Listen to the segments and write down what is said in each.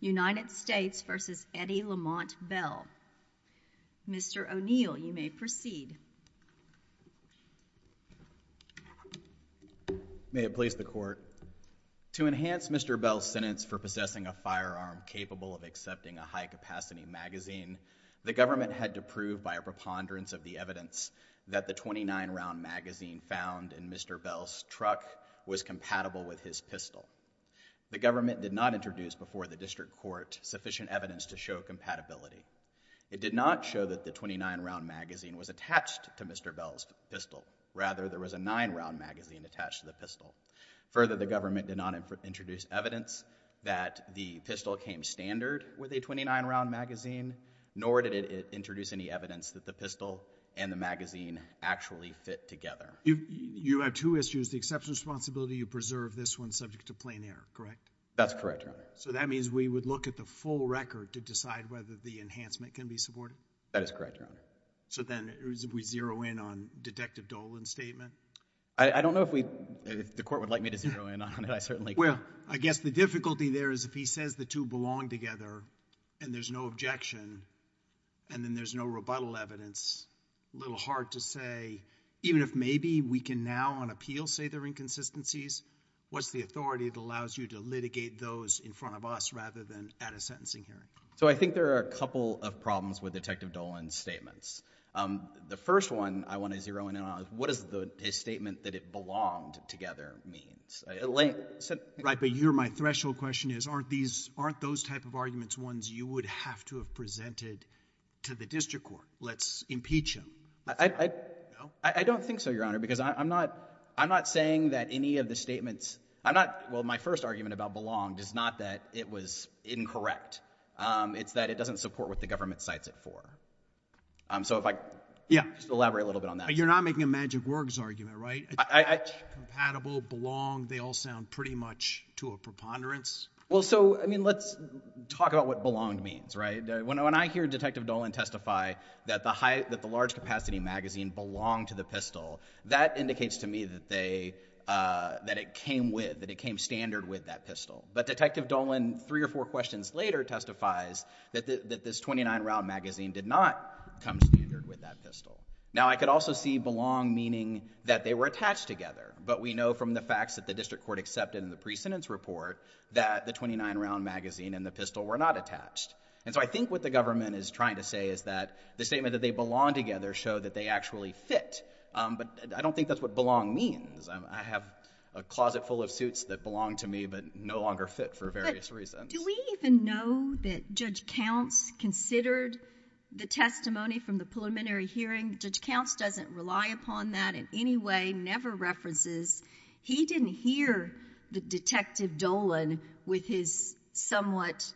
United States v. Eddie Lamont Bell. Mr. O'Neill you may proceed. May it please the court. To enhance Mr. Bell's sentence for possessing a firearm capable of accepting a high-capacity magazine, the government had to prove by a preponderance of the evidence that the 29-round magazine found in Mr. Bell's truck was compatible with his pistol. The government did not introduce before the district court sufficient evidence to show compatibility. It did not show that the 29-round magazine was attached to Mr. Bell's pistol. Rather, there was a nine-round magazine attached to the pistol. Further, the government did not introduce evidence that the pistol came standard with a 29-round magazine, nor did it introduce any evidence that the pistol and the magazine actually fit together. You have two issues. The exception responsibility, you preserve this one subject to plain error, correct? That's correct, Your Honor. So that means we would look at the full record to decide whether the enhancement can be supported? That is correct, Your Honor. So then we zero in on Detective Dolan's statement? I don't know if the court would like me to zero in on it. I certainly can't. Well, I guess the difficulty there is if he says the two belong together and there's no objection and then there's no rebuttal evidence, a little hard to say even if maybe we can now on appeal say they're inconsistencies, what's the authority that allows you to litigate those in front of us rather than at a sentencing hearing? So I think there are a couple of problems with Detective Dolan's statements. The first one I want to zero in on, what is the statement that it belonged together means? Right, but you're my threshold question is aren't these, aren't those type of arguments ones you would have to have presented to the district court? Let's impeach him. I don't think so, Your Honor, because I'm not, I'm not saying that any of the statements, I'm not, well my first argument about belonged is not that it was incorrect. It's that it doesn't support what the government cites it for. So if I, yeah, elaborate a little bit on that. You're not making a magic words argument, right? Compatible, belong, they all sound pretty much to a common ponderance. Well, so, I mean, let's talk about what belonged means, right? When I hear Detective Dolan testify that the large capacity magazine belonged to the pistol, that indicates to me that they, that it came with, that it came standard with that pistol. But Detective Dolan three or four questions later testifies that this 29 round magazine did not come standard with that pistol. Now I could also see belong meaning that they were attached together, but we know from the facts that the district court accepted in the precedence report that the 29 round magazine and the pistol were not attached. And so I think what the government is trying to say is that the statement that they belong together show that they actually fit. But I don't think that's what belong means. I have a closet full of suits that belong to me but no longer fit for various reasons. Do we even know that Judge Counts considered the testimony from the preliminary hearing? Judge Counts doesn't rely upon that in any way, never references. He didn't hear the Detective Dolan with his somewhat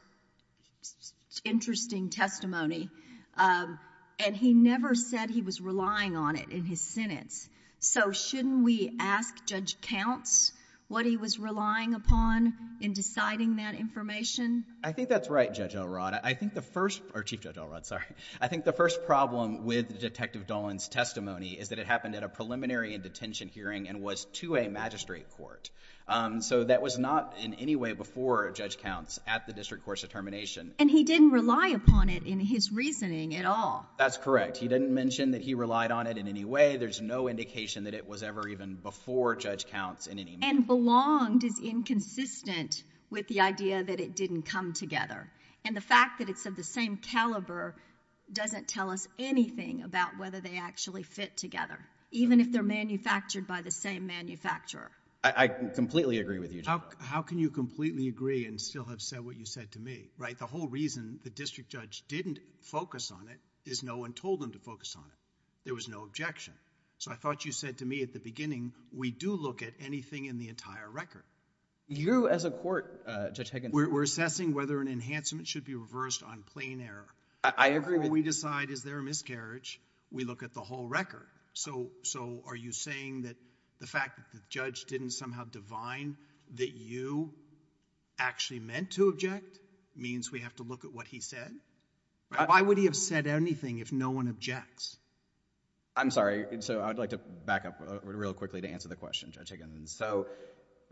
interesting testimony. And he never said he was relying on it in his sentence. So shouldn't we ask Judge Counts what he was relying upon in deciding that information? I think that's right, Judge O'Rod. I think the first, or Chief Judge O'Rod, sorry. I think the first problem with Detective Dolan's testimony is that it happened at a preliminary and detention hearing and was to a magistrate court. So that was not in any way before Judge Counts at the district court's determination. And he didn't rely upon it in his reasoning at all. That's correct. He didn't mention that he relied on it in any way. There's no indication that it was ever even before Judge Counts in any way. And belonged is inconsistent with the idea that it didn't come together. And the fact that it's of the same manufacturer, even if they're manufactured by the same manufacturer. I completely agree with you, Judge. How can you completely agree and still have said what you said to me, right? The whole reason the district judge didn't focus on it is no one told him to focus on it. There was no objection. So I thought you said to me at the beginning, we do look at anything in the entire record. You as a court, Judge Higgins... We're assessing whether an enhancement should be reversed on plain error. I agree with... Before we decide is there a miscarriage, we look at the whole record. So, are you saying that the fact that the judge didn't somehow divine that you actually meant to object means we have to look at what he said? Why would he have said anything if no one objects? I'm sorry. So I would like to back up real quickly to answer the question, Judge Higgins. So,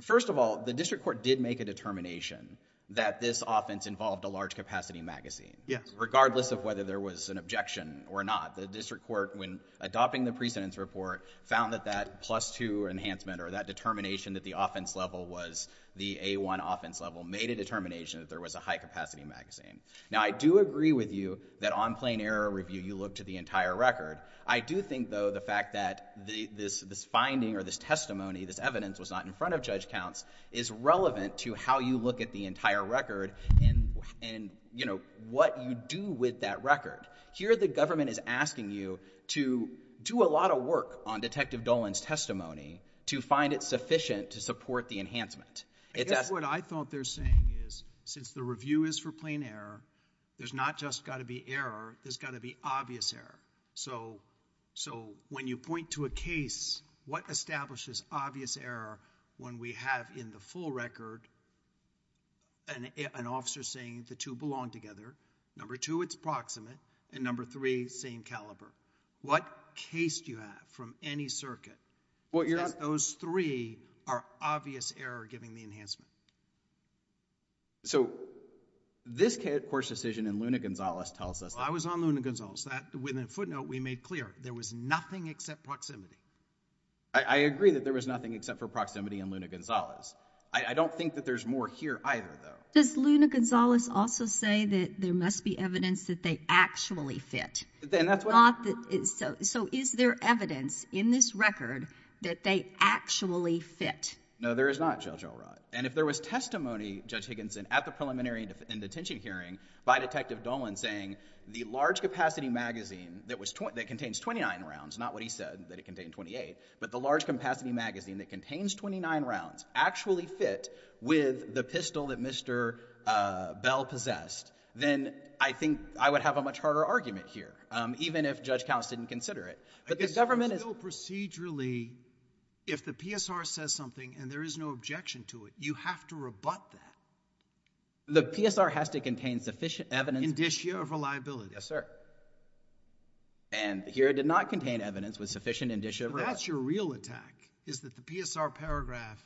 first of all, the district court did make a determination that this offense involved a large capacity magazine. Regardless of whether there was an objection or not, the district court, when adopting the precedence report, found that that plus two enhancement or that determination that the offense level was the A1 offense level made a determination that there was a high capacity magazine. Now, I do agree with you that on plain error review, you look to the entire record. I do think, though, the fact that this finding or this testimony, this evidence was not in front of Judge Counts is relevant to how you look at the entire record and, you know, what you do with that record. Here, the government is asking you to do a lot of work on Detective Dolan's testimony to find it sufficient to support the enhancement. I think what I thought they're saying is, since the review is for plain error, there's not just got to be error, there's got to be obvious error. So, when you point to a case, what establishes obvious error when we have in the full record an officer saying the two belong together, number two, it's proximate, and number three, same caliber. What case do you have from any circuit that says those three are obvious error given the enhancement? So, this court's decision in Luna Gonzales tells us... I was on Luna Gonzales. That, with a footnote, we made clear. There was nothing except proximity. I agree that there was nothing except for proximity in Luna Gonzales. I don't think that there's more here either, though. Does Luna Gonzales also say that there must be evidence that they actually fit? Then that's what... So, is there evidence in this record that they actually fit? No, there is not, Judge Alright. And if there was testimony, Judge Higginson, at the preliminary and detention hearing by Detective Dolan saying the large capacity magazine that contains 29 rounds, not what he said, that it should say in 28, but the large capacity magazine that contains 29 rounds actually fit with the pistol that Mr. Bell possessed, then I think I would have a much harder argument here, even if Judge Counts didn't consider it. But the government is... I guess, procedurally, if the PSR says something and there is no objection to it, you have to rebut that. The PSR has to contain sufficient evidence... Indicia of reliability. Indicia of reliability. Yes, sir. And here it did not contain evidence with sufficient Indicia... But that's your real attack, is that the PSR paragraph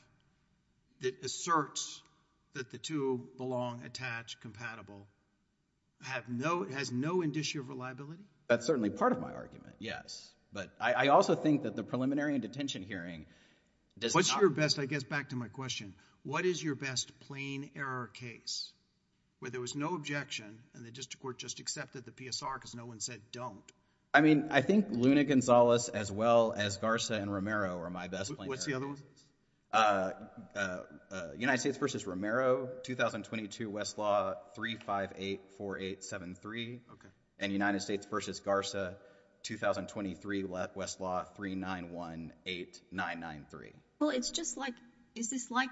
that asserts that the two belong, attach, compatible, has no Indicia of reliability? That's certainly part of my argument, yes. But I also think that the preliminary and detention hearing does not... What's your best, I guess, back to my question, what is your best plain error case where there was no objection and the district court just accepted the PSR because no one said don't? I mean, I think Luna Gonzalez, as well as Garza and Romero are my best plain errors. What's the other one? United States v. Romero, 2022, Westlaw, 3584873, and United States v. Garza, 2023, Westlaw, 3918993. Well, it's just like... is this like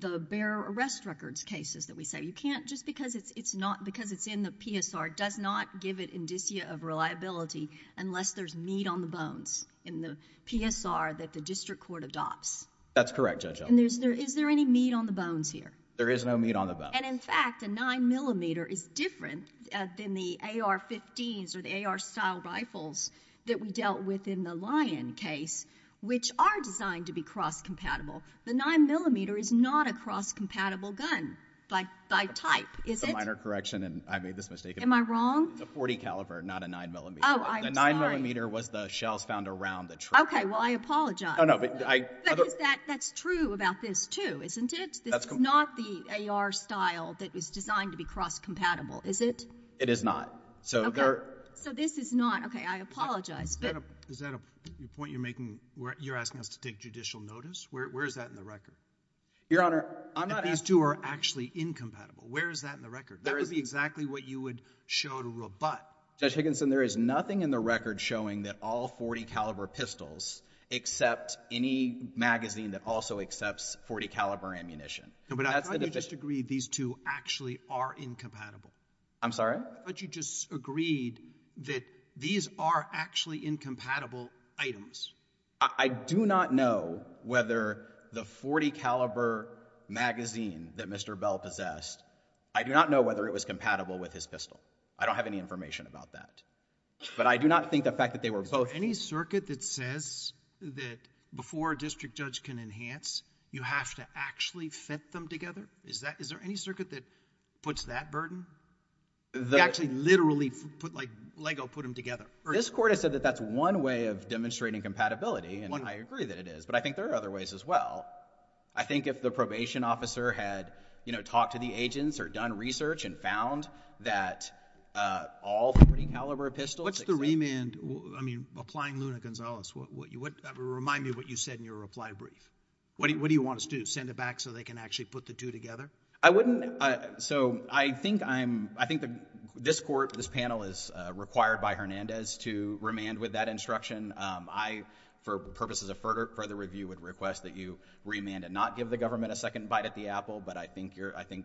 the bearer arrest records cases that we say, you can't, just because it's in the PSR does not give it Indicia of reliability unless there's meat on the bones in the PSR that the district court adopts? That's correct, Judge Elkins. And is there any meat on the bones here? There is no meat on the bones. And in fact, a 9mm is different than the AR-15s or the AR-style rifles that we dealt with in the Lyon case, which are designed to be cross-compatible. The 9mm is not a cross-compatible gun by type, is it? It's a minor correction, and I made this mistake. Am I wrong? It's a .40 caliber, not a 9mm. Oh, I'm sorry. The 9mm was the shells found around the trigger. Okay, well, I apologize. Oh, no, but I... But that's true about this, too, isn't it? That's... This is not the AR-style that was designed to be cross-compatible, is it? It is not. Okay. So this is not. Okay, I apologize, but... Is that a point you're making where you're asking us to take judicial notice? Where is that in the record? Your Honor, I'm not asking... That these two are actually incompatible. Where is that in the record? That would be exactly what you would show to Robutt. Judge Higginson, there is nothing in the record showing that all .40 caliber pistols accept any magazine that also accepts .40 caliber ammunition. No, but I thought you just agreed these two actually are incompatible. I'm sorry? I thought you just agreed that these are actually incompatible items. I do not know whether the .40 caliber magazine that Mr. Bell possessed, I do not know whether it was compatible with his pistol. I don't have any information about that. But I do not think the fact that they were both... Is there any circuit that says that before a district judge can enhance, you have to actually fit them together? Is there any circuit that puts that burden, that actually literally put like Lego put them together? This Court has said that that's one way of demonstrating compatibility, and I agree that it is, but I think there are other ways as well. I think if the probation officer had, you know, talked to the agents or done research and found that all .40 caliber pistols... What's the remand, I mean, applying Luna-Gonzalez, remind me what you said in your reply brief. What do you want us to do? Send it back so they can actually put the two together? I wouldn't... So, I think I'm... I think this Court, this panel is required by Hernandez to remand with that instruction. I, for purposes of further review, would request that you remand and not give the government a second bite at the apple, but I think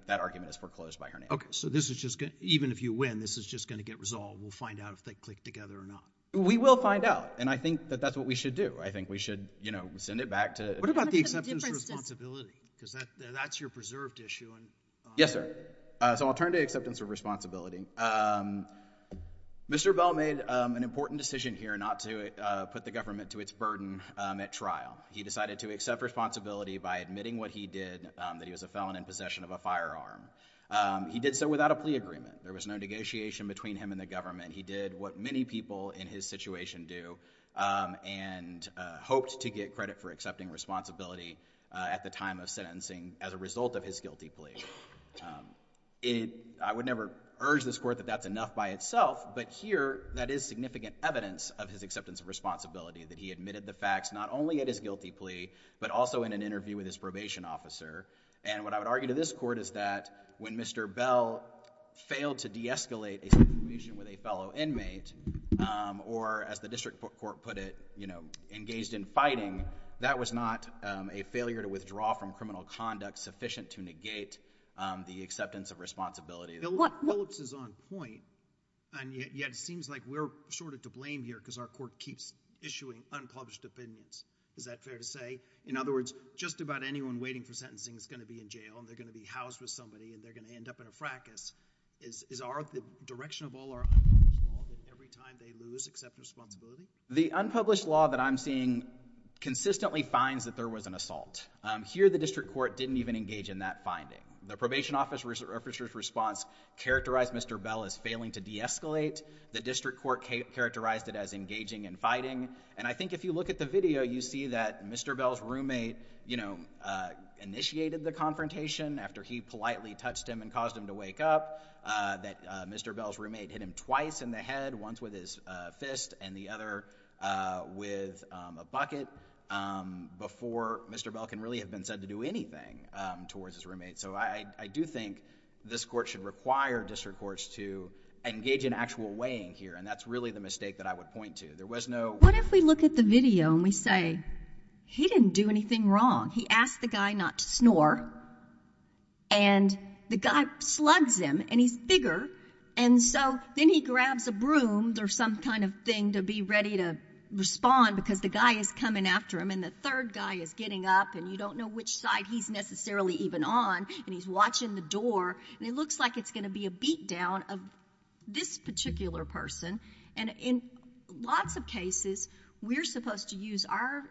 that argument is foreclosed by Hernandez. Okay. So this is just... Even if you win, this is just going to get resolved. We'll find out if they click together or not. We will find out, and I think that that's what we should do. I think we should, you know, send it back to... What about the acceptance responsibility? Because that's your preserved issue. Yes, sir. So, I'll turn to acceptance of responsibility. Mr. Bell made an important decision here not to put the government to its burden at trial. He decided to accept responsibility by admitting what he did, that he was a felon in possession of a firearm. He did so without a plea agreement. There was no negotiation between him and the government. He did what many people in his situation do and hoped to get credit for accepting responsibility at the time of sentencing as a result of his guilty plea. I would never urge this Court that that's enough by itself, but here, that is significant evidence of his acceptance of responsibility, that he admitted the facts not only at his guilty plea, but also in an interview with his probation officer, and what I would argue to this Court is that when Mr. Bell failed to de-escalate a situation with a fellow inmate, or as the district court put it, you know, engaged in fighting, that was not a failure to withdraw from criminal conduct sufficient to negate the acceptance of responsibility. Phillips is on point, and yet it seems like we're sort of to blame here because our court keeps issuing unpublished opinions. Is that fair to say? In other words, just about anyone waiting for sentencing is going to be in jail, and they're going to be housed with somebody, and they're going to end up in a fracas. Is our, the direction of all our unpublished law that every time they lose, accept responsibility? The unpublished law that I'm seeing consistently finds that there was an assault. Here the district court didn't even engage in that finding. The probation officer's response characterized Mr. Bell as failing to de-escalate. The district court characterized it as engaging in fighting, and I think if you look at the video, you see that Mr. Bell's roommate, you know, initiated the confrontation after he politely touched him and caused him to wake up, that Mr. Bell's roommate hit him twice in the head, once with his fist and the other with a bucket, before Mr. Bell can really have been said to do anything towards his roommate. So I do think this court should require district courts to engage in actual weighing here, and that's really the mistake that I would point to. There was no— What if we look at the video and we say, he didn't do anything wrong. He asked the guy not to snore, and the guy slugs him, and he's bigger, and so then he grabs a broom or some kind of thing to be ready to respond because the guy is coming after him, and the third guy is getting up, and you don't know which side he's necessarily even on, and he's watching the door, and it looks like it's going to be a beat-down of this particular person, and in lots of cases, we're supposed to use our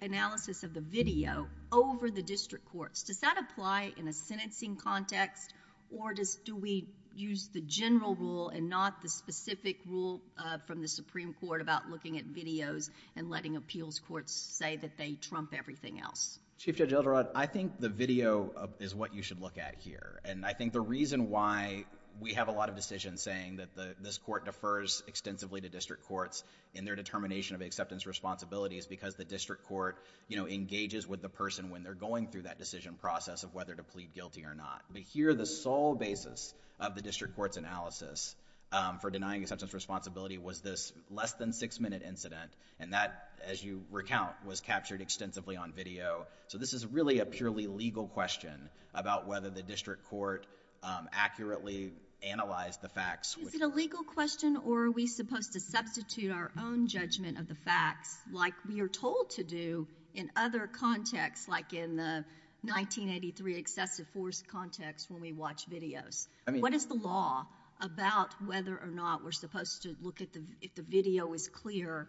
analysis of the video over the district courts. Does that apply in a sentencing context, or do we use the general rule and not the specific rule from the Supreme Court about looking at videos and letting appeals courts say that they trump everything else? Chief Judge Elderod, I think the video is what you should look at here, and I think the reason why we have a lot of decisions saying that this court defers extensively to district courts in their determination of acceptance responsibilities is because the district court engages with the person when they're going through that decision process of whether to plead guilty or not, but here, the sole basis of the district court's analysis for denying acceptance responsibility was this less-than-six-minute incident, and that, as you recount, was captured extensively on video, so this is really a purely legal question about whether the district court accurately analyzed the facts. Is it a legal question, or are we supposed to substitute our own judgment of the facts, like we are told to do in other contexts, like in the 1983 excessive force context when we watch videos? I mean... What is the law about whether or not we're supposed to look at the... if the video is clear,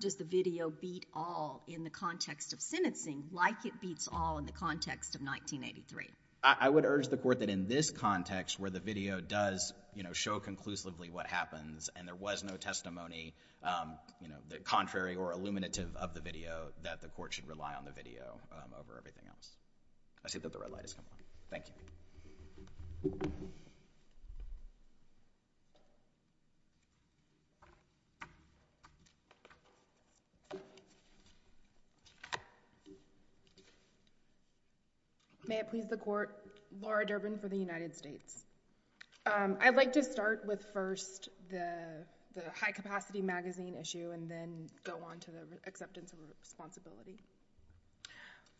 does the video beat all in the context of sentencing, like it beats all in the context of 1983? I would urge the court that in this context, where the video does show conclusively what happens, and there was no testimony, you know, contrary or illuminative of the video, that the court should rely on the video over everything else. I see that the red light has come on. Thank you. May it please the Court, Laura Durbin for the United States. I'd like to start with first the high-capacity magazine issue, and then go on to the acceptance of responsibility.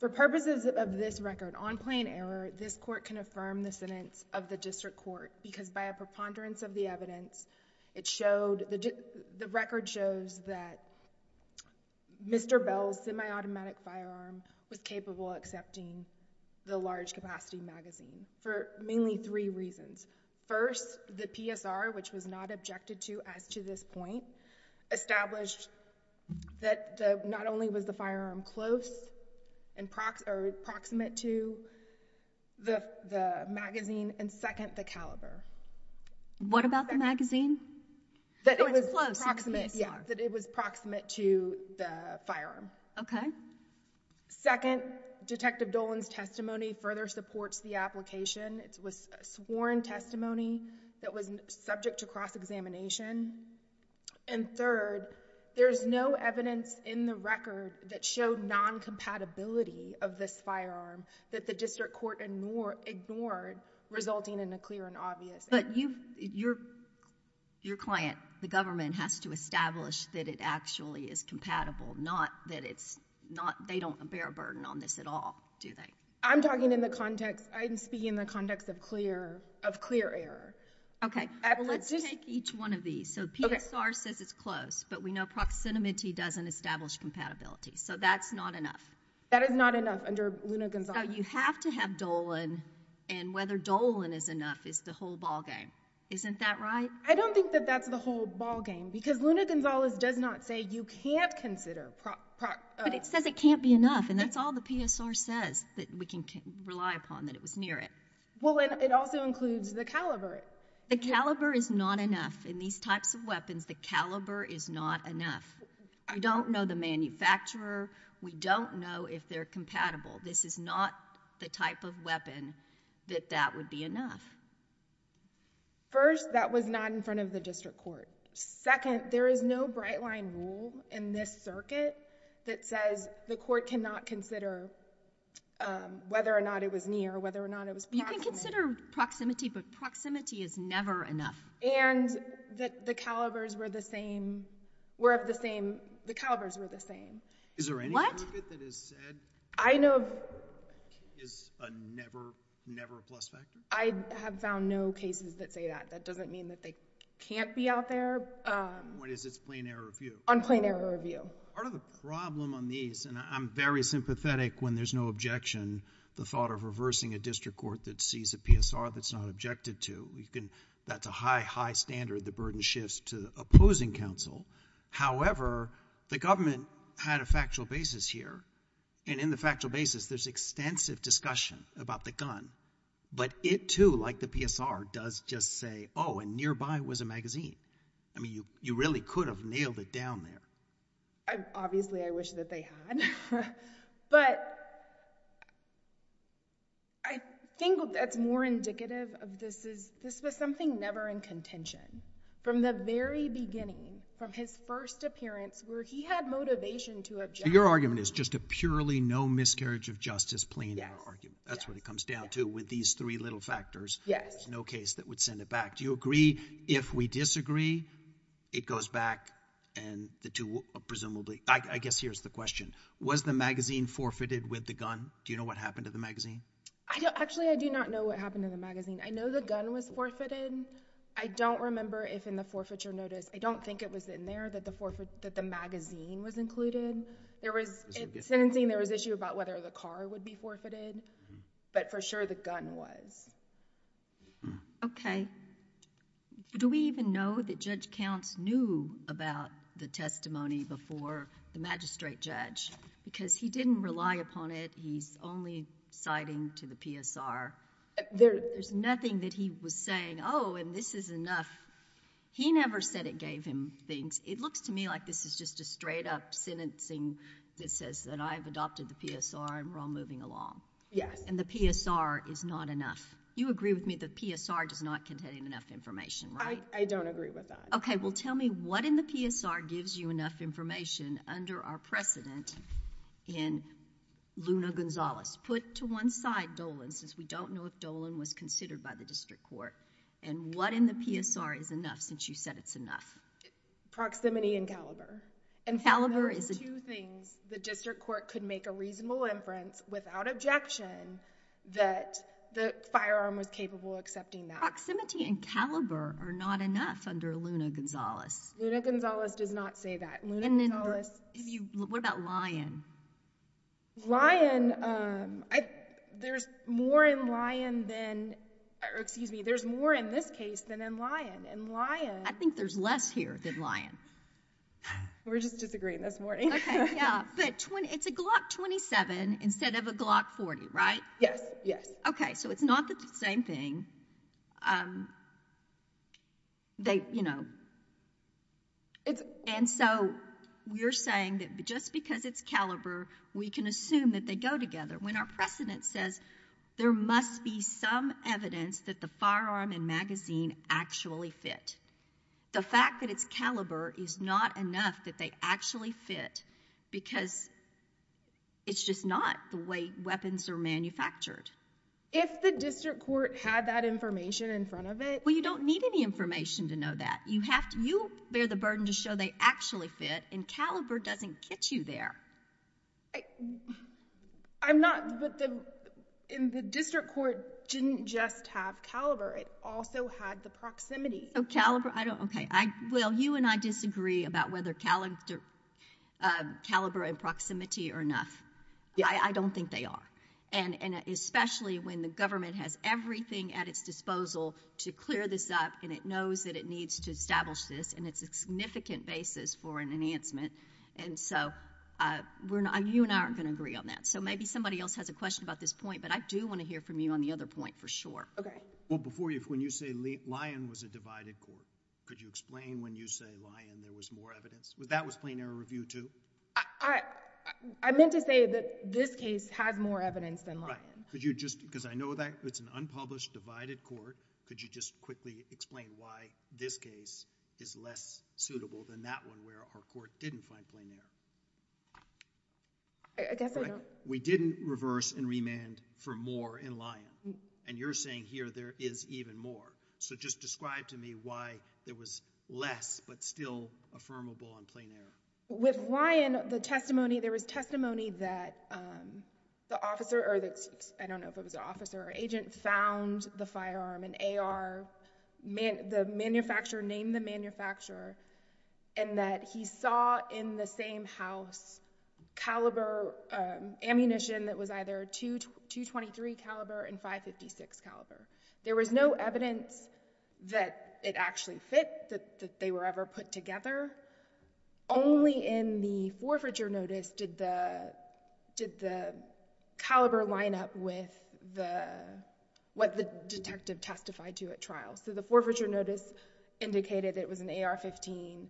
For purposes of this record, on plain error, this court can affirm the sentence of the district court, because by a preponderance of the evidence, it showed... the record shows that Mr. Bell's semi-automatic firearm was capable of accepting the large-capacity magazine for mainly three reasons. First, the PSR, which was not objected to as to this point, established that not only was the firearm close or proximate to the magazine, and second, the caliber. What about the magazine? That it was... Oh, it's close to the PSR. Yeah, that it was proximate to the firearm. Okay. Second, Detective Dolan's testimony further supports the application. It was sworn testimony that was subject to cross-examination. And third, there's no evidence in the record that showed non-compatibility of this firearm that the district court ignored, resulting in a clear and obvious... But you... your client, the government, has to establish that it actually is compatible, not that it's not... they don't bear a burden on this at all, do they? I'm talking in the context... I'm speaking in the context of clear... of clear error. Okay. Let's just... Let's take each one of these. So PSR says it's close, but we know proximity doesn't establish compatibility, so that's not enough. That is not enough under Luna Gonzalez. You have to have Dolan, and whether Dolan is enough is the whole ballgame. Isn't that right? I don't think that that's the whole ballgame, because Luna Gonzalez does not say you can't consider... But it says it can't be enough, and that's all the PSR says that we can rely upon, that it was near it. Well, and it also includes the caliber. The caliber is not enough in these types of weapons. The caliber is not enough. We don't know the manufacturer. We don't know if they're compatible. This is not the type of weapon that that would be enough. First, that was not in front of the district court. Second, there is no bright-line rule in this circuit that says the court cannot consider whether or not it was near or whether or not it was proximate. You can consider proximity, but proximity is never enough. And that the calibers were the same, were of the same... the calibers were the same. Is there any... What?... that has said... I know...... is a never, never a plus factor? I have found no cases that say that. That doesn't mean that they can't be out there... What is this, plain error review? On plain error review. Part of the problem on these, and I'm very sympathetic when there's no objection, the thought of reversing a district court that sees a PSR that's not objected to. You can... that's a high, high standard, the burden shifts to opposing counsel. However, the government had a factual basis here, and in the factual basis, there's extensive discussion about the gun. But it, too, like the PSR, does just say, oh, and nearby was a magazine. I mean, you really could have nailed it down there. Obviously, I wish that they had, but I think that's more indicative of this is... this was something never in contention. From the very beginning, from his first appearance, where he had motivation to object... So, your argument is just a purely no miscarriage of justice, plain error argument? Yes. That's what it comes down to with these three little factors. Yes. No case that would send it back. Do you agree if we disagree, it goes back, and the two will presumably... I guess here's the question. Was the magazine forfeited with the gun? Do you know what happened to the magazine? Actually, I do not know what happened to the magazine. I know the gun was forfeited. I don't remember if in the forfeiture notice... I don't think it was in there that the magazine was included. In sentencing, there was an issue about whether the car would be forfeited, but for sure the gun was. Okay. Do we even know that Judge Counts knew about the testimony before the magistrate judge? Because he didn't rely upon it, he's only citing to the PSR. There's nothing that he was saying, oh, and this is enough. He never said it gave him things. It looks to me like this is just a straight up sentencing that says that I've adopted the PSR and we're all moving along. Yes. And the PSR is not enough. You agree with me the PSR does not contain enough information, right? I don't agree with that. Okay. Well, tell me what in the PSR gives you enough information under our precedent in Luna Gonzalez? Put to one side Dolan, since we don't know if Dolan was considered by the district court, and what in the PSR is enough since you said it's enough? Proximity and caliber. And there are two things the district court could make a reasonable inference without objection that the firearm was capable of accepting that. Proximity and caliber are not enough under Luna Gonzalez. Luna Gonzalez does not say that. Luna Gonzalez. And then, what about Lyon? Lyon, there's more in Lyon than, excuse me, there's more in this case than in Lyon. In Lyon. Lyon. I think there's less here than Lyon. We're just disagreeing this morning. Yeah. But it's a Glock 27 instead of a Glock 40, right? Yes. Yes. Okay. So it's not the same thing. They, you know, and so you're saying that just because it's caliber, we can assume that they go together when our precedent says there must be some evidence that the firearm and the magazine actually fit. The fact that it's caliber is not enough that they actually fit because it's just not the way weapons are manufactured. If the district court had that information in front of it. Well, you don't need any information to know that. You have to, you bear the burden to show they actually fit and caliber doesn't get you there. I'm not, but the, and the district court didn't just have caliber. It also had the proximity. Oh, caliber. I don't. Okay. I, well, you and I disagree about whether caliber and proximity are enough. I don't think they are. And especially when the government has everything at its disposal to clear this up and it knows that it needs to establish this and it's a significant basis for an enhancement. And so we're not, you and I aren't going to agree on that. So maybe somebody else has a question about this point, but I do want to hear from you on the other point for sure. Okay. Well, before you, when you say Lyon was a divided court, could you explain when you say Lyon there was more evidence, that was plain error review too? I meant to say that this case has more evidence than Lyon. Right. Could you just, because I know that it's an unpublished, divided court, could you just quickly explain why this case is less suitable than that one where our court didn't find plain error? I guess I don't. We didn't reverse and remand for more in Lyon. And you're saying here there is even more. So just describe to me why there was less, but still affirmable on plain error. With Lyon, the testimony, there was testimony that the officer, or I don't know if it was an officer or agent, found the firearm, an AR, the manufacturer named the manufacturer, and that he saw in the same house caliber ammunition that was either .223 caliber and .556 caliber. There was no evidence that it actually fit, that they were ever put together. Only in the forfeiture notice did the caliber line up with what the detective testified to at trial. So the forfeiture notice indicated it was an AR-15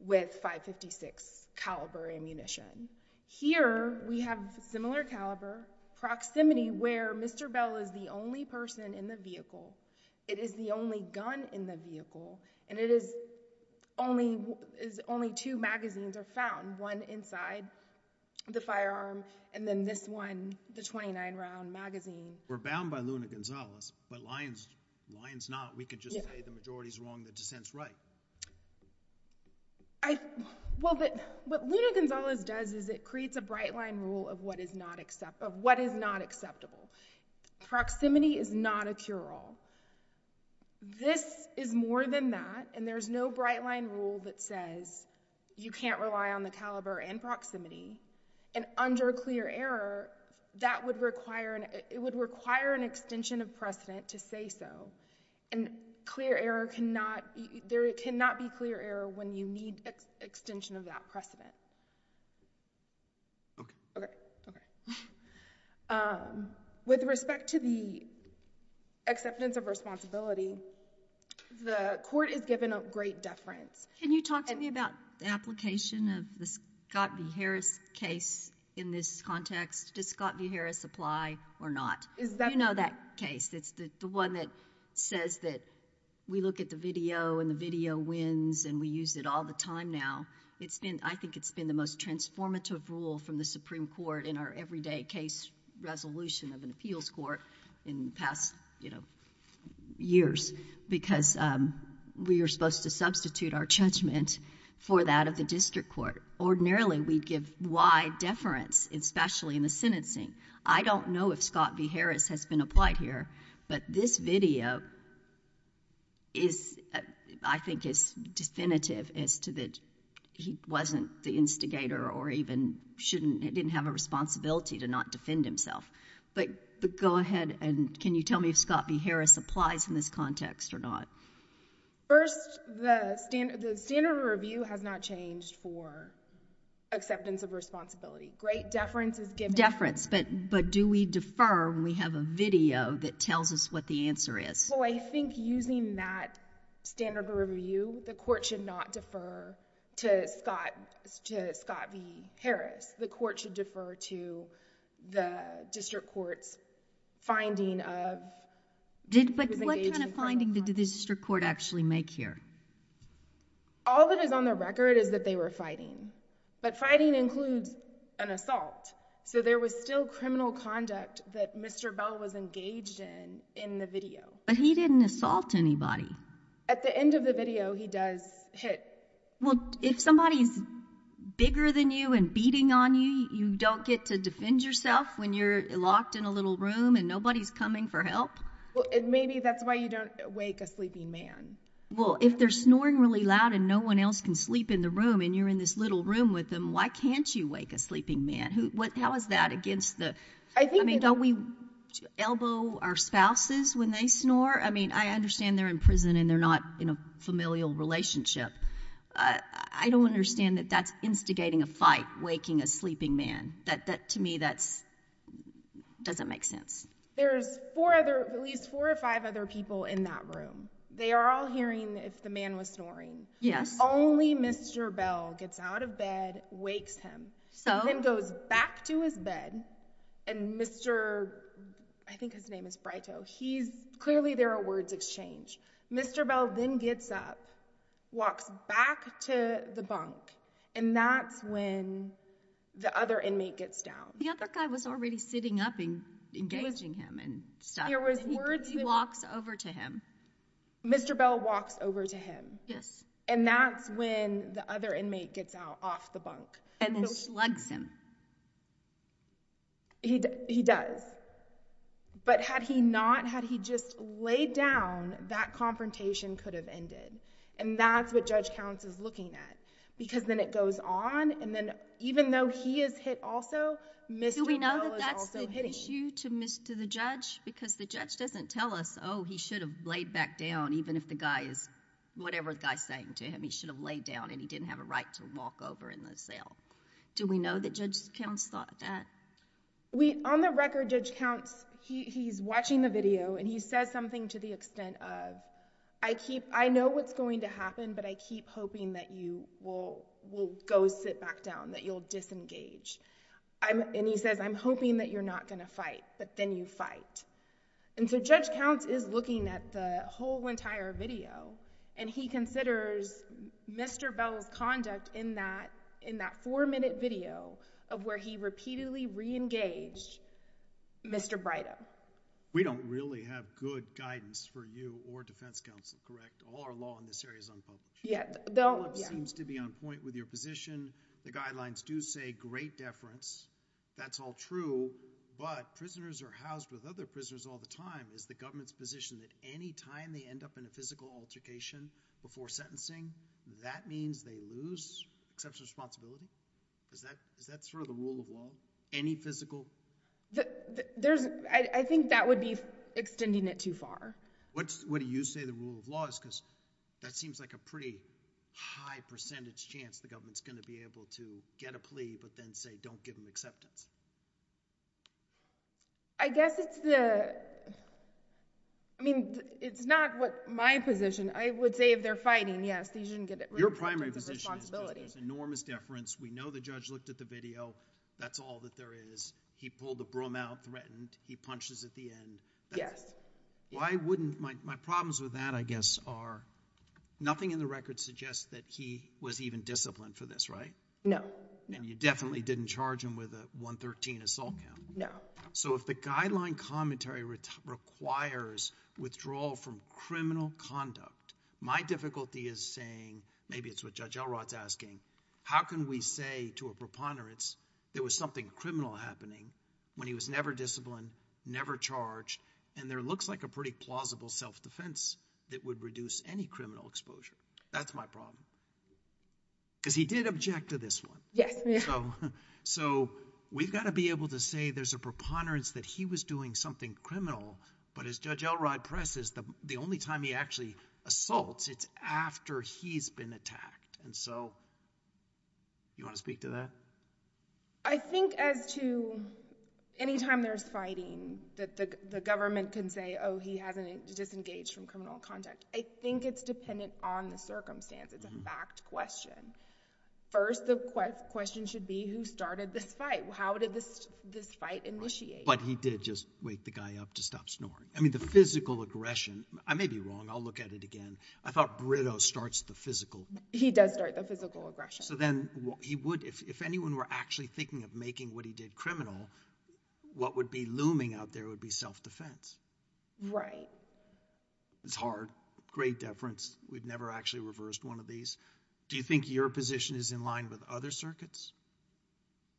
with .556 caliber ammunition. Here we have similar caliber, proximity where Mr. Bell is the only person in the vehicle, it is the only gun in the vehicle, and it is only two magazines are found, one inside the firearm and then this one, the 29 round magazine. We're bound by Luna Gonzales, but Lyon's not. We could just say the majority's wrong, the dissent's right. Well, what Luna Gonzales does is it creates a bright line rule of what is not acceptable. Proximity is not a cure-all. This is more than that, and there's no bright line rule that says you can't rely on the caliber and proximity. And under clear error, that would require, it would require an extension of precedent to say so. And clear error cannot, there cannot be clear error when you need extension of that precedent. Okay. Okay. Okay. With respect to the acceptance of responsibility, the court is given a great deference. Can you talk to me about the application of the Scott v. Harris case in this context? Does Scott v. Harris apply or not? You know that case. It's the one that says that we look at the video and the video wins and we use it all the time now. I think it's been the most transformative rule from the Supreme Court in our everyday case resolution of an appeals court in past years because we are supposed to substitute our judgment for that of the district court. Ordinarily, we give wide deference, especially in the sentencing. I don't know if Scott v. Harris has been applied here, but this video is, I think is definitive as to that he wasn't the instigator or even shouldn't, didn't have a responsibility to not defend himself. But go ahead and can you tell me if Scott v. Harris applies in this context or not? First, the standard of review has not changed for acceptance of responsibility. Great deference is given. Deference. But do we defer when we have a video that tells us what the answer is? Well, I think using that standard of review, the court should not defer to Scott v. Harris. The court should defer to the district court's finding of... But what kind of finding did the district court actually make here? All that is on the record is that they were fighting. But fighting includes an assault. So there was still criminal conduct that Mr. Bell was engaged in in the video. But he didn't assault anybody. At the end of the video, he does hit. Well, if somebody's bigger than you and beating on you, you don't get to defend yourself when you're locked in a little room and nobody's coming for help? Well, maybe that's why you don't wake a sleeping man. Well, if they're snoring really loud and no one else can sleep in the room and you're in this little room with them, why can't you wake a sleeping man? How is that against the... I mean, don't we elbow our spouses when they snore? I mean, I understand they're in prison and they're not in a familial relationship. I don't understand that that's instigating a fight, waking a sleeping man. To me, that doesn't make sense. There's at least four or five other people in that room. They are all hearing if the man was snoring. Yes. Only Mr. Bell gets out of bed, wakes him, and then goes back to his bed. And Mr.... I think his name is Brighto. He's... clearly there are words exchanged. Mr. Bell then gets up, walks back to the bunk, and that's when the other inmate gets down. The other guy was already sitting up engaged. He was engaging him and stuff. There was words... He walks over to him. Mr. Bell walks over to him. Yes. And that's when the other inmate gets out off the bunk. And then slugs him. He does. But had he not, had he just laid down, that confrontation could have ended. And that's what Judge Counts is looking at. Because then it goes on, and then even though he is hit also, Mr. Bell is also hitting. Is there an issue to the judge? Because the judge doesn't tell us, oh, he should have laid back down even if the guy is... whatever the guy is saying to him, he should have laid down and he didn't have a right to walk over in the cell. Do we know that Judge Counts thought that? On the record, Judge Counts, he's watching the video, and he says something to the extent of, I know what's going to happen, but I keep hoping that you will go sit back down, that you'll disengage. And he says, I'm hoping that you're not going to fight, but then you fight. And so Judge Counts is looking at the whole entire video, and he considers Mr. Bell's conduct in that four-minute video of where he repeatedly re-engaged Mr. Brighto. We don't really have good guidance for you or defense counsel, correct? All our law in this area is unpopular. Yeah. The law seems to be on point with your position. The guidelines do say great deference. That's all true, but prisoners are housed with other prisoners all the time. Is the government's position that any time they end up in a physical altercation before sentencing, that means they lose exceptional responsibility? Is that sort of the rule of law? Any physical... There's... I think that would be extending it too far. What do you say the rule of law is, because that seems like a pretty high percentage chance the government's going to be able to get a plea, but then say, don't give him acceptance? I guess it's the... I mean, it's not what my position. I would say if they're fighting, yes, these shouldn't get... Your primary position is there's enormous deference. We know the judge looked at the video. That's all that there is. He pulled the broom out, threatened. He punches at the end. Yes. Why wouldn't... My problems with that, I guess, are nothing in the record suggests that he was even disciplined for this, right? No. You definitely didn't charge him with a 113 assault count? No. If the guideline commentary requires withdrawal from criminal conduct, my difficulty is saying, maybe it's what Judge Elrod's asking, how can we say to a preponderance there was something criminal happening when he was never disciplined, never charged, and there looks like a pretty plausible self-defense that would reduce any criminal exposure? That's my problem, because he did object to this one. Yes. So, we've got to be able to say there's a preponderance that he was doing something criminal, but as Judge Elrod presses, the only time he actually assaults, it's after he's been attacked, and so... You want to speak to that? I think as to any time there's fighting, that the government can say, oh, he hasn't disengaged from criminal conduct. I think it's dependent on the circumstance. It's a fact question. First, the question should be, who started this fight? How did this fight initiate? But he did just wake the guy up to stop snoring. I mean, the physical aggression, I may be wrong, I'll look at it again, I thought Brito starts the physical... He does start the physical aggression. So then, he would, if anyone were actually thinking of making what he did criminal, what would be looming out there would be self-defense. Right. It's hard. Great deference. We've never actually reversed one of these. Do you think your position is in line with other circuits?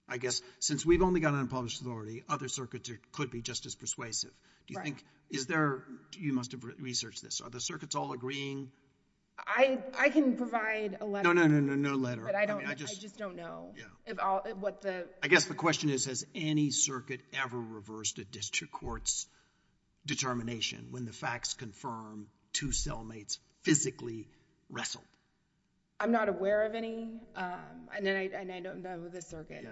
I guess, since we've only got an unpublished authority, other circuits could be just as persuasive. Right. Do you think, is there, you must have researched this, are the circuits all agreeing? I can provide a letter. No, no, no, no, no letter. I mean, I just... I just don't know what the... I guess the question is, has any circuit ever reversed a district court's determination when the facts confirm two cellmates physically wrestled? I'm not aware of any, and I don't know if the circuit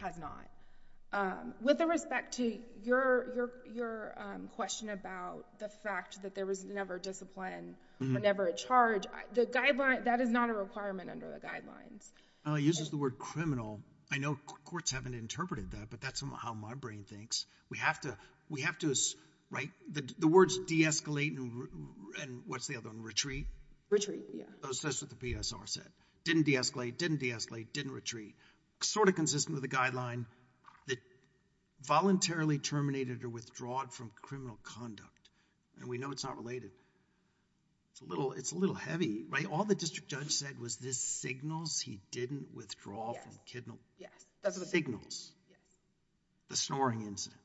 has not. With respect to your question about the fact that there was never discipline or never a charge, the guideline, that is not a requirement under the guidelines. It uses the word criminal. I know courts haven't interpreted that, but that's how my brain thinks. We have to... the words de-escalate and what's the other one, retreat? Retreat, yeah. That's what the PSR said. Didn't de-escalate, didn't de-escalate, didn't retreat. Sort of consistent with the guideline that voluntarily terminated or withdrawed from criminal conduct, and we know it's not related. It's a little heavy, right? All the district judge said was this signals he didn't withdraw from... Signals. Yes. The snoring incident.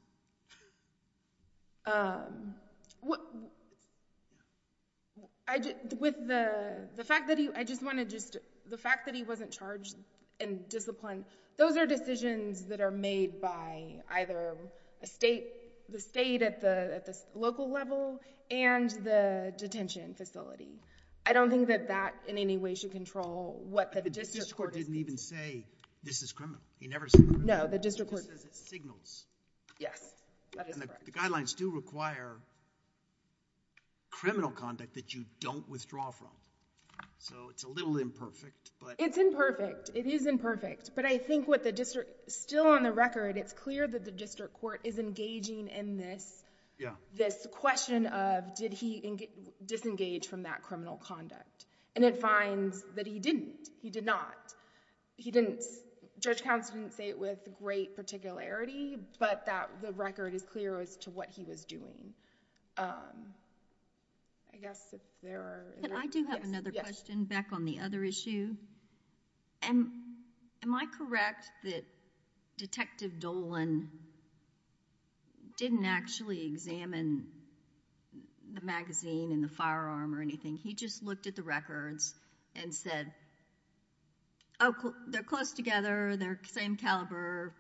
With the fact that he... I just want to just... The fact that he wasn't charged in discipline, those are decisions that are made by either the state at the local level and the detention facility. I don't think that that in any way should control what the district court... The district court didn't even say, this is criminal. He never said that. No, the district court... He says it signals. Yes. That is correct. The guidelines do require criminal conduct that you don't withdraw from. It's a little imperfect, but... It's imperfect. It is imperfect, but I think what the district... still on the record, it's clear that the district court is engaging in this question of did he disengage from that criminal conduct, and it finds that he didn't, he did not. He didn't... Judge Counsel didn't say it with great particularity, but that the record is clear as to what he was doing, I guess if there are... Yes. I do have another question back on the other issue, and am I correct that Detective Dolan didn't actually examine the magazine and the firearm or anything? He just looked at the records and said, oh, they're close together, they're same caliber,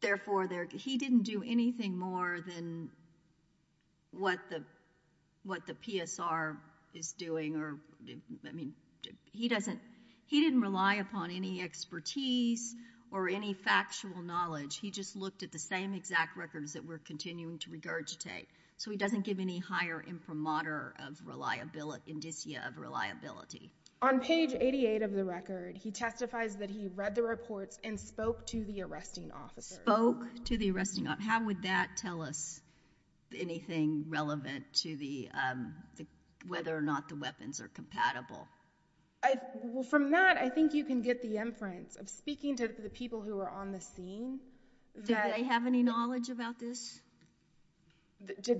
therefore, he didn't do anything more than what the PSR is doing. He didn't rely upon any expertise or any factual knowledge. He just looked at the same exact records that we're continuing to regurgitate, so he doesn't give any higher imprimatur of... indicia of reliability. On page 88 of the record, he testifies that he read the reports and spoke to the arresting officer. Spoke to the arresting... How would that tell us anything relevant to the... whether or not the weapons are compatible? From that, I think you can get the inference of speaking to the people who are on the scene that... Did the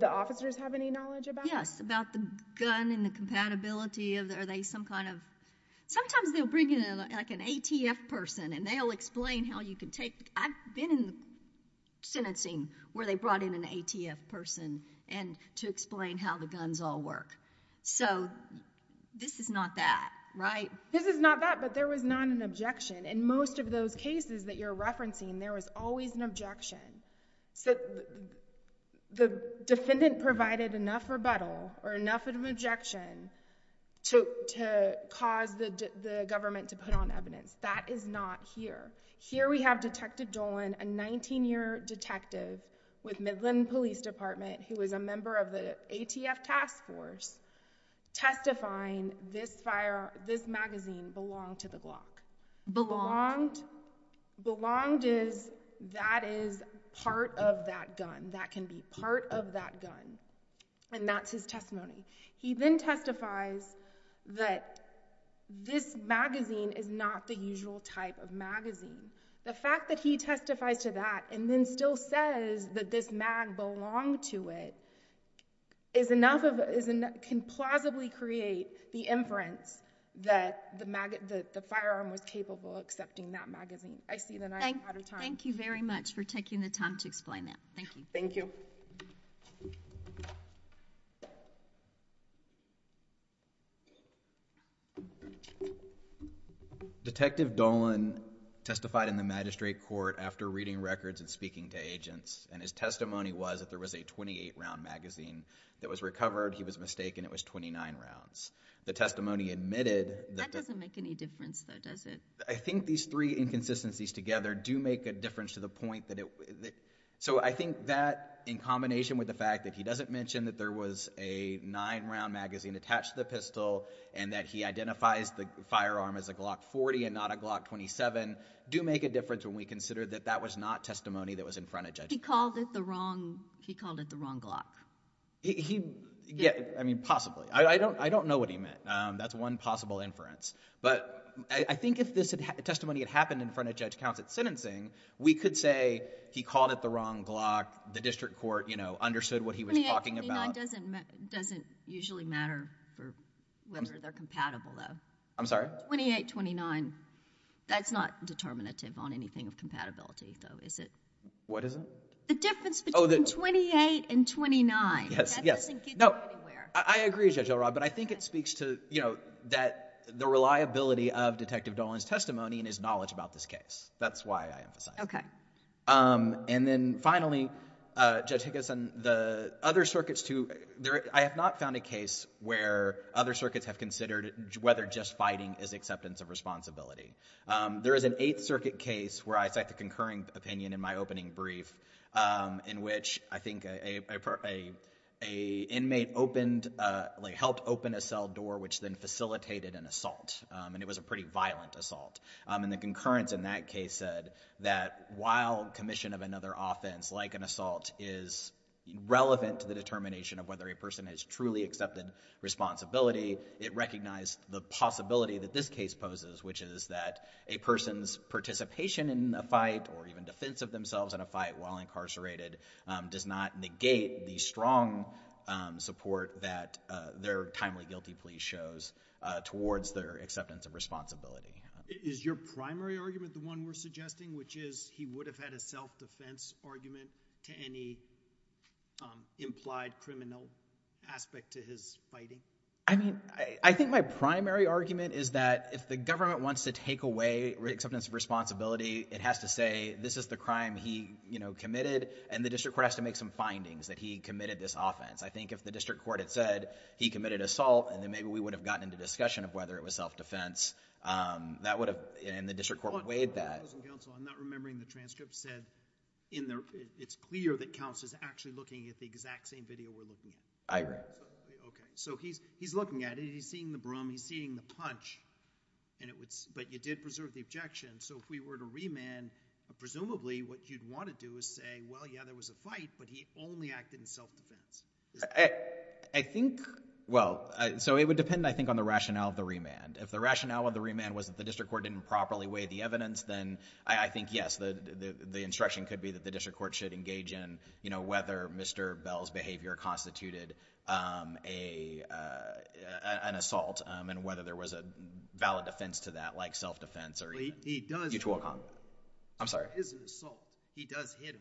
officers have any knowledge about it? Yes. About the gun and the compatibility of the... Are they some kind of... Sometimes they'll bring in an ATF person, and they'll explain how you can take... I've been in sentencing where they brought in an ATF person to explain how the guns all work. This is not that, right? This is not that, but there was not an objection. In most of those cases that you're referencing, there was always an objection. The defendant provided enough rebuttal or enough of an objection to cause the government to put on evidence. That is not here. Here we have Detective Dolan, a 19-year detective with Midland Police Department who was a member of the ATF task force, testifying this magazine belonged to the Glock. Belonged? Belonged is that is part of that gun. That can be part of that gun, and that's his testimony. He then testifies that this magazine is not the usual type of magazine. The fact that he testifies to that and then still says that this mag belonged to it is enough of... can plausibly create the inference that the firearm was capable of accepting that magazine. I see that I'm out of time. Thank you very much for taking the time to explain that. Thank you. Thank you. Detective Dolan testified in the magistrate court after reading records and speaking to agents, and his testimony was that there was a 28-round magazine that was recovered. He was mistaken. It was 29 rounds. The testimony admitted... That doesn't make any difference though, does it? I think these three inconsistencies together do make a difference to the point that... I think that in combination with the fact that he doesn't mention that there was a nine-round magazine attached to the pistol and that he identifies the firearm as a Glock 40 and not a Glock 27 do make a difference when we consider that that was not testimony that was in front of judges. He called it the wrong Glock. Possibly. I don't know what he meant. That's one possible inference. I think if this testimony had happened in front of Judge Counts at sentencing, we could say he called it the wrong Glock. The district court understood what he was talking about. 28-29 doesn't usually matter for whether they're compatible though. I'm sorry? 28-29. That's not determinative on anything of compatibility though, is it? What is it? The difference between 28 and 29. Yes. That doesn't get you anywhere. I agree, Judge Elrod, but I think it speaks to the reliability of Detective Dolan's testimony and his knowledge about this case. That's why I emphasize it. And then finally, Judge Higginson, the other circuits too... I have not found a case where other circuits have considered whether just fighting is acceptance of responsibility. There is an Eighth Circuit case where I cite the concurring opinion in my opening brief in which I think an inmate helped open a cell door, which then facilitated an assault. It was a pretty violent assault. The concurrence in that case said that while commission of another offense like an assault is relevant to the determination of whether a person has truly accepted responsibility, it recognized the possibility that this case poses, which is that a person's participation in a fight or even defense of themselves in a fight while incarcerated does not negate the strong support that their timely guilty plea shows towards their acceptance of responsibility. Is your primary argument the one we're suggesting, which is he would have had a self-defense argument to any implied criminal aspect to his fighting? I mean, I think my primary argument is that if the government wants to take away acceptance of responsibility, it has to say this is the crime he, you know, committed and the district court has to make some findings that he committed this offense. I think if the district court had said he committed assault and then maybe we would have gotten into discussion of whether it was self-defense, um, that would have... and the district court would have weighed that. But, Mr. Counsel, I'm not remembering the transcript said in the... it's clear that counsel is actually looking at the exact same video we're looking at. I agree. Okay. So, he's, he's looking at it, he's seeing the broom, he's seeing the punch and it was... but you did preserve the objection, so if we were to remand, presumably what you'd want to do is say, well, yeah, there was a fight, but he only acted in self-defense. I think... well, so it would depend, I think, on the rationale of the remand. If the rationale of the remand was that the district court didn't properly weigh the evidence, then I think, yes, the, the, the instruction could be that the district court should engage in, you know, whether Mr. Bell's behavior constituted, um, a, uh, an assault, um, and whether there was a valid defense to that, like self-defense or... He does...... mutual harm. I'm sorry.... is an assault. He does hit him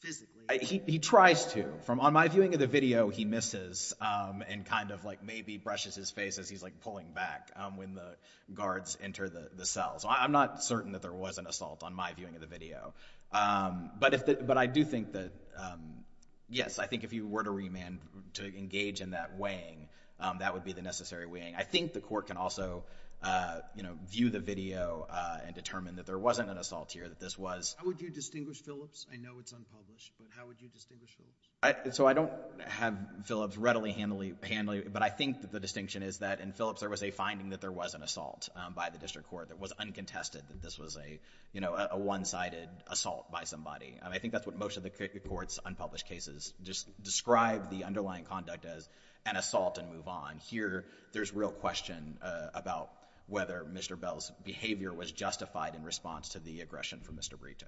physically. He, he tries to. From my viewing of the video, he misses, um, and kind of, like, maybe brushes his face as he's, like, pulling back, um, when the guards enter the, the cells. I'm not certain that there was an assault on my viewing of the video, um, but if the, but I do think that, um, yes, I think if you were to remand, to engage in that weighing, um, that would be the necessary weighing. I think the court can also, uh, you know, view the video, uh, and determine that there wasn't an assault here, that this was... How would you distinguish Phillips? I know it's unpublished, but how would you distinguish Phillips? I, so I don't have Phillips readily handily, handily, but I think that the distinction is that in Phillips, there was a finding that there was an assault, um, by the district court that was uncontested that this was a, you know, a, a one-sided assault by somebody. Um, I think that's what most of the, the court's unpublished cases just describe the underlying conduct as an assault and move on. And here, there's real question, uh, about whether Mr. Bell's behavior was justified in response to the aggression from Mr. Brito.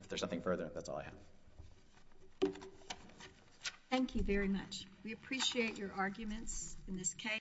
If there's nothing further, that's all I have. Thank you very much. We appreciate your arguments in this case.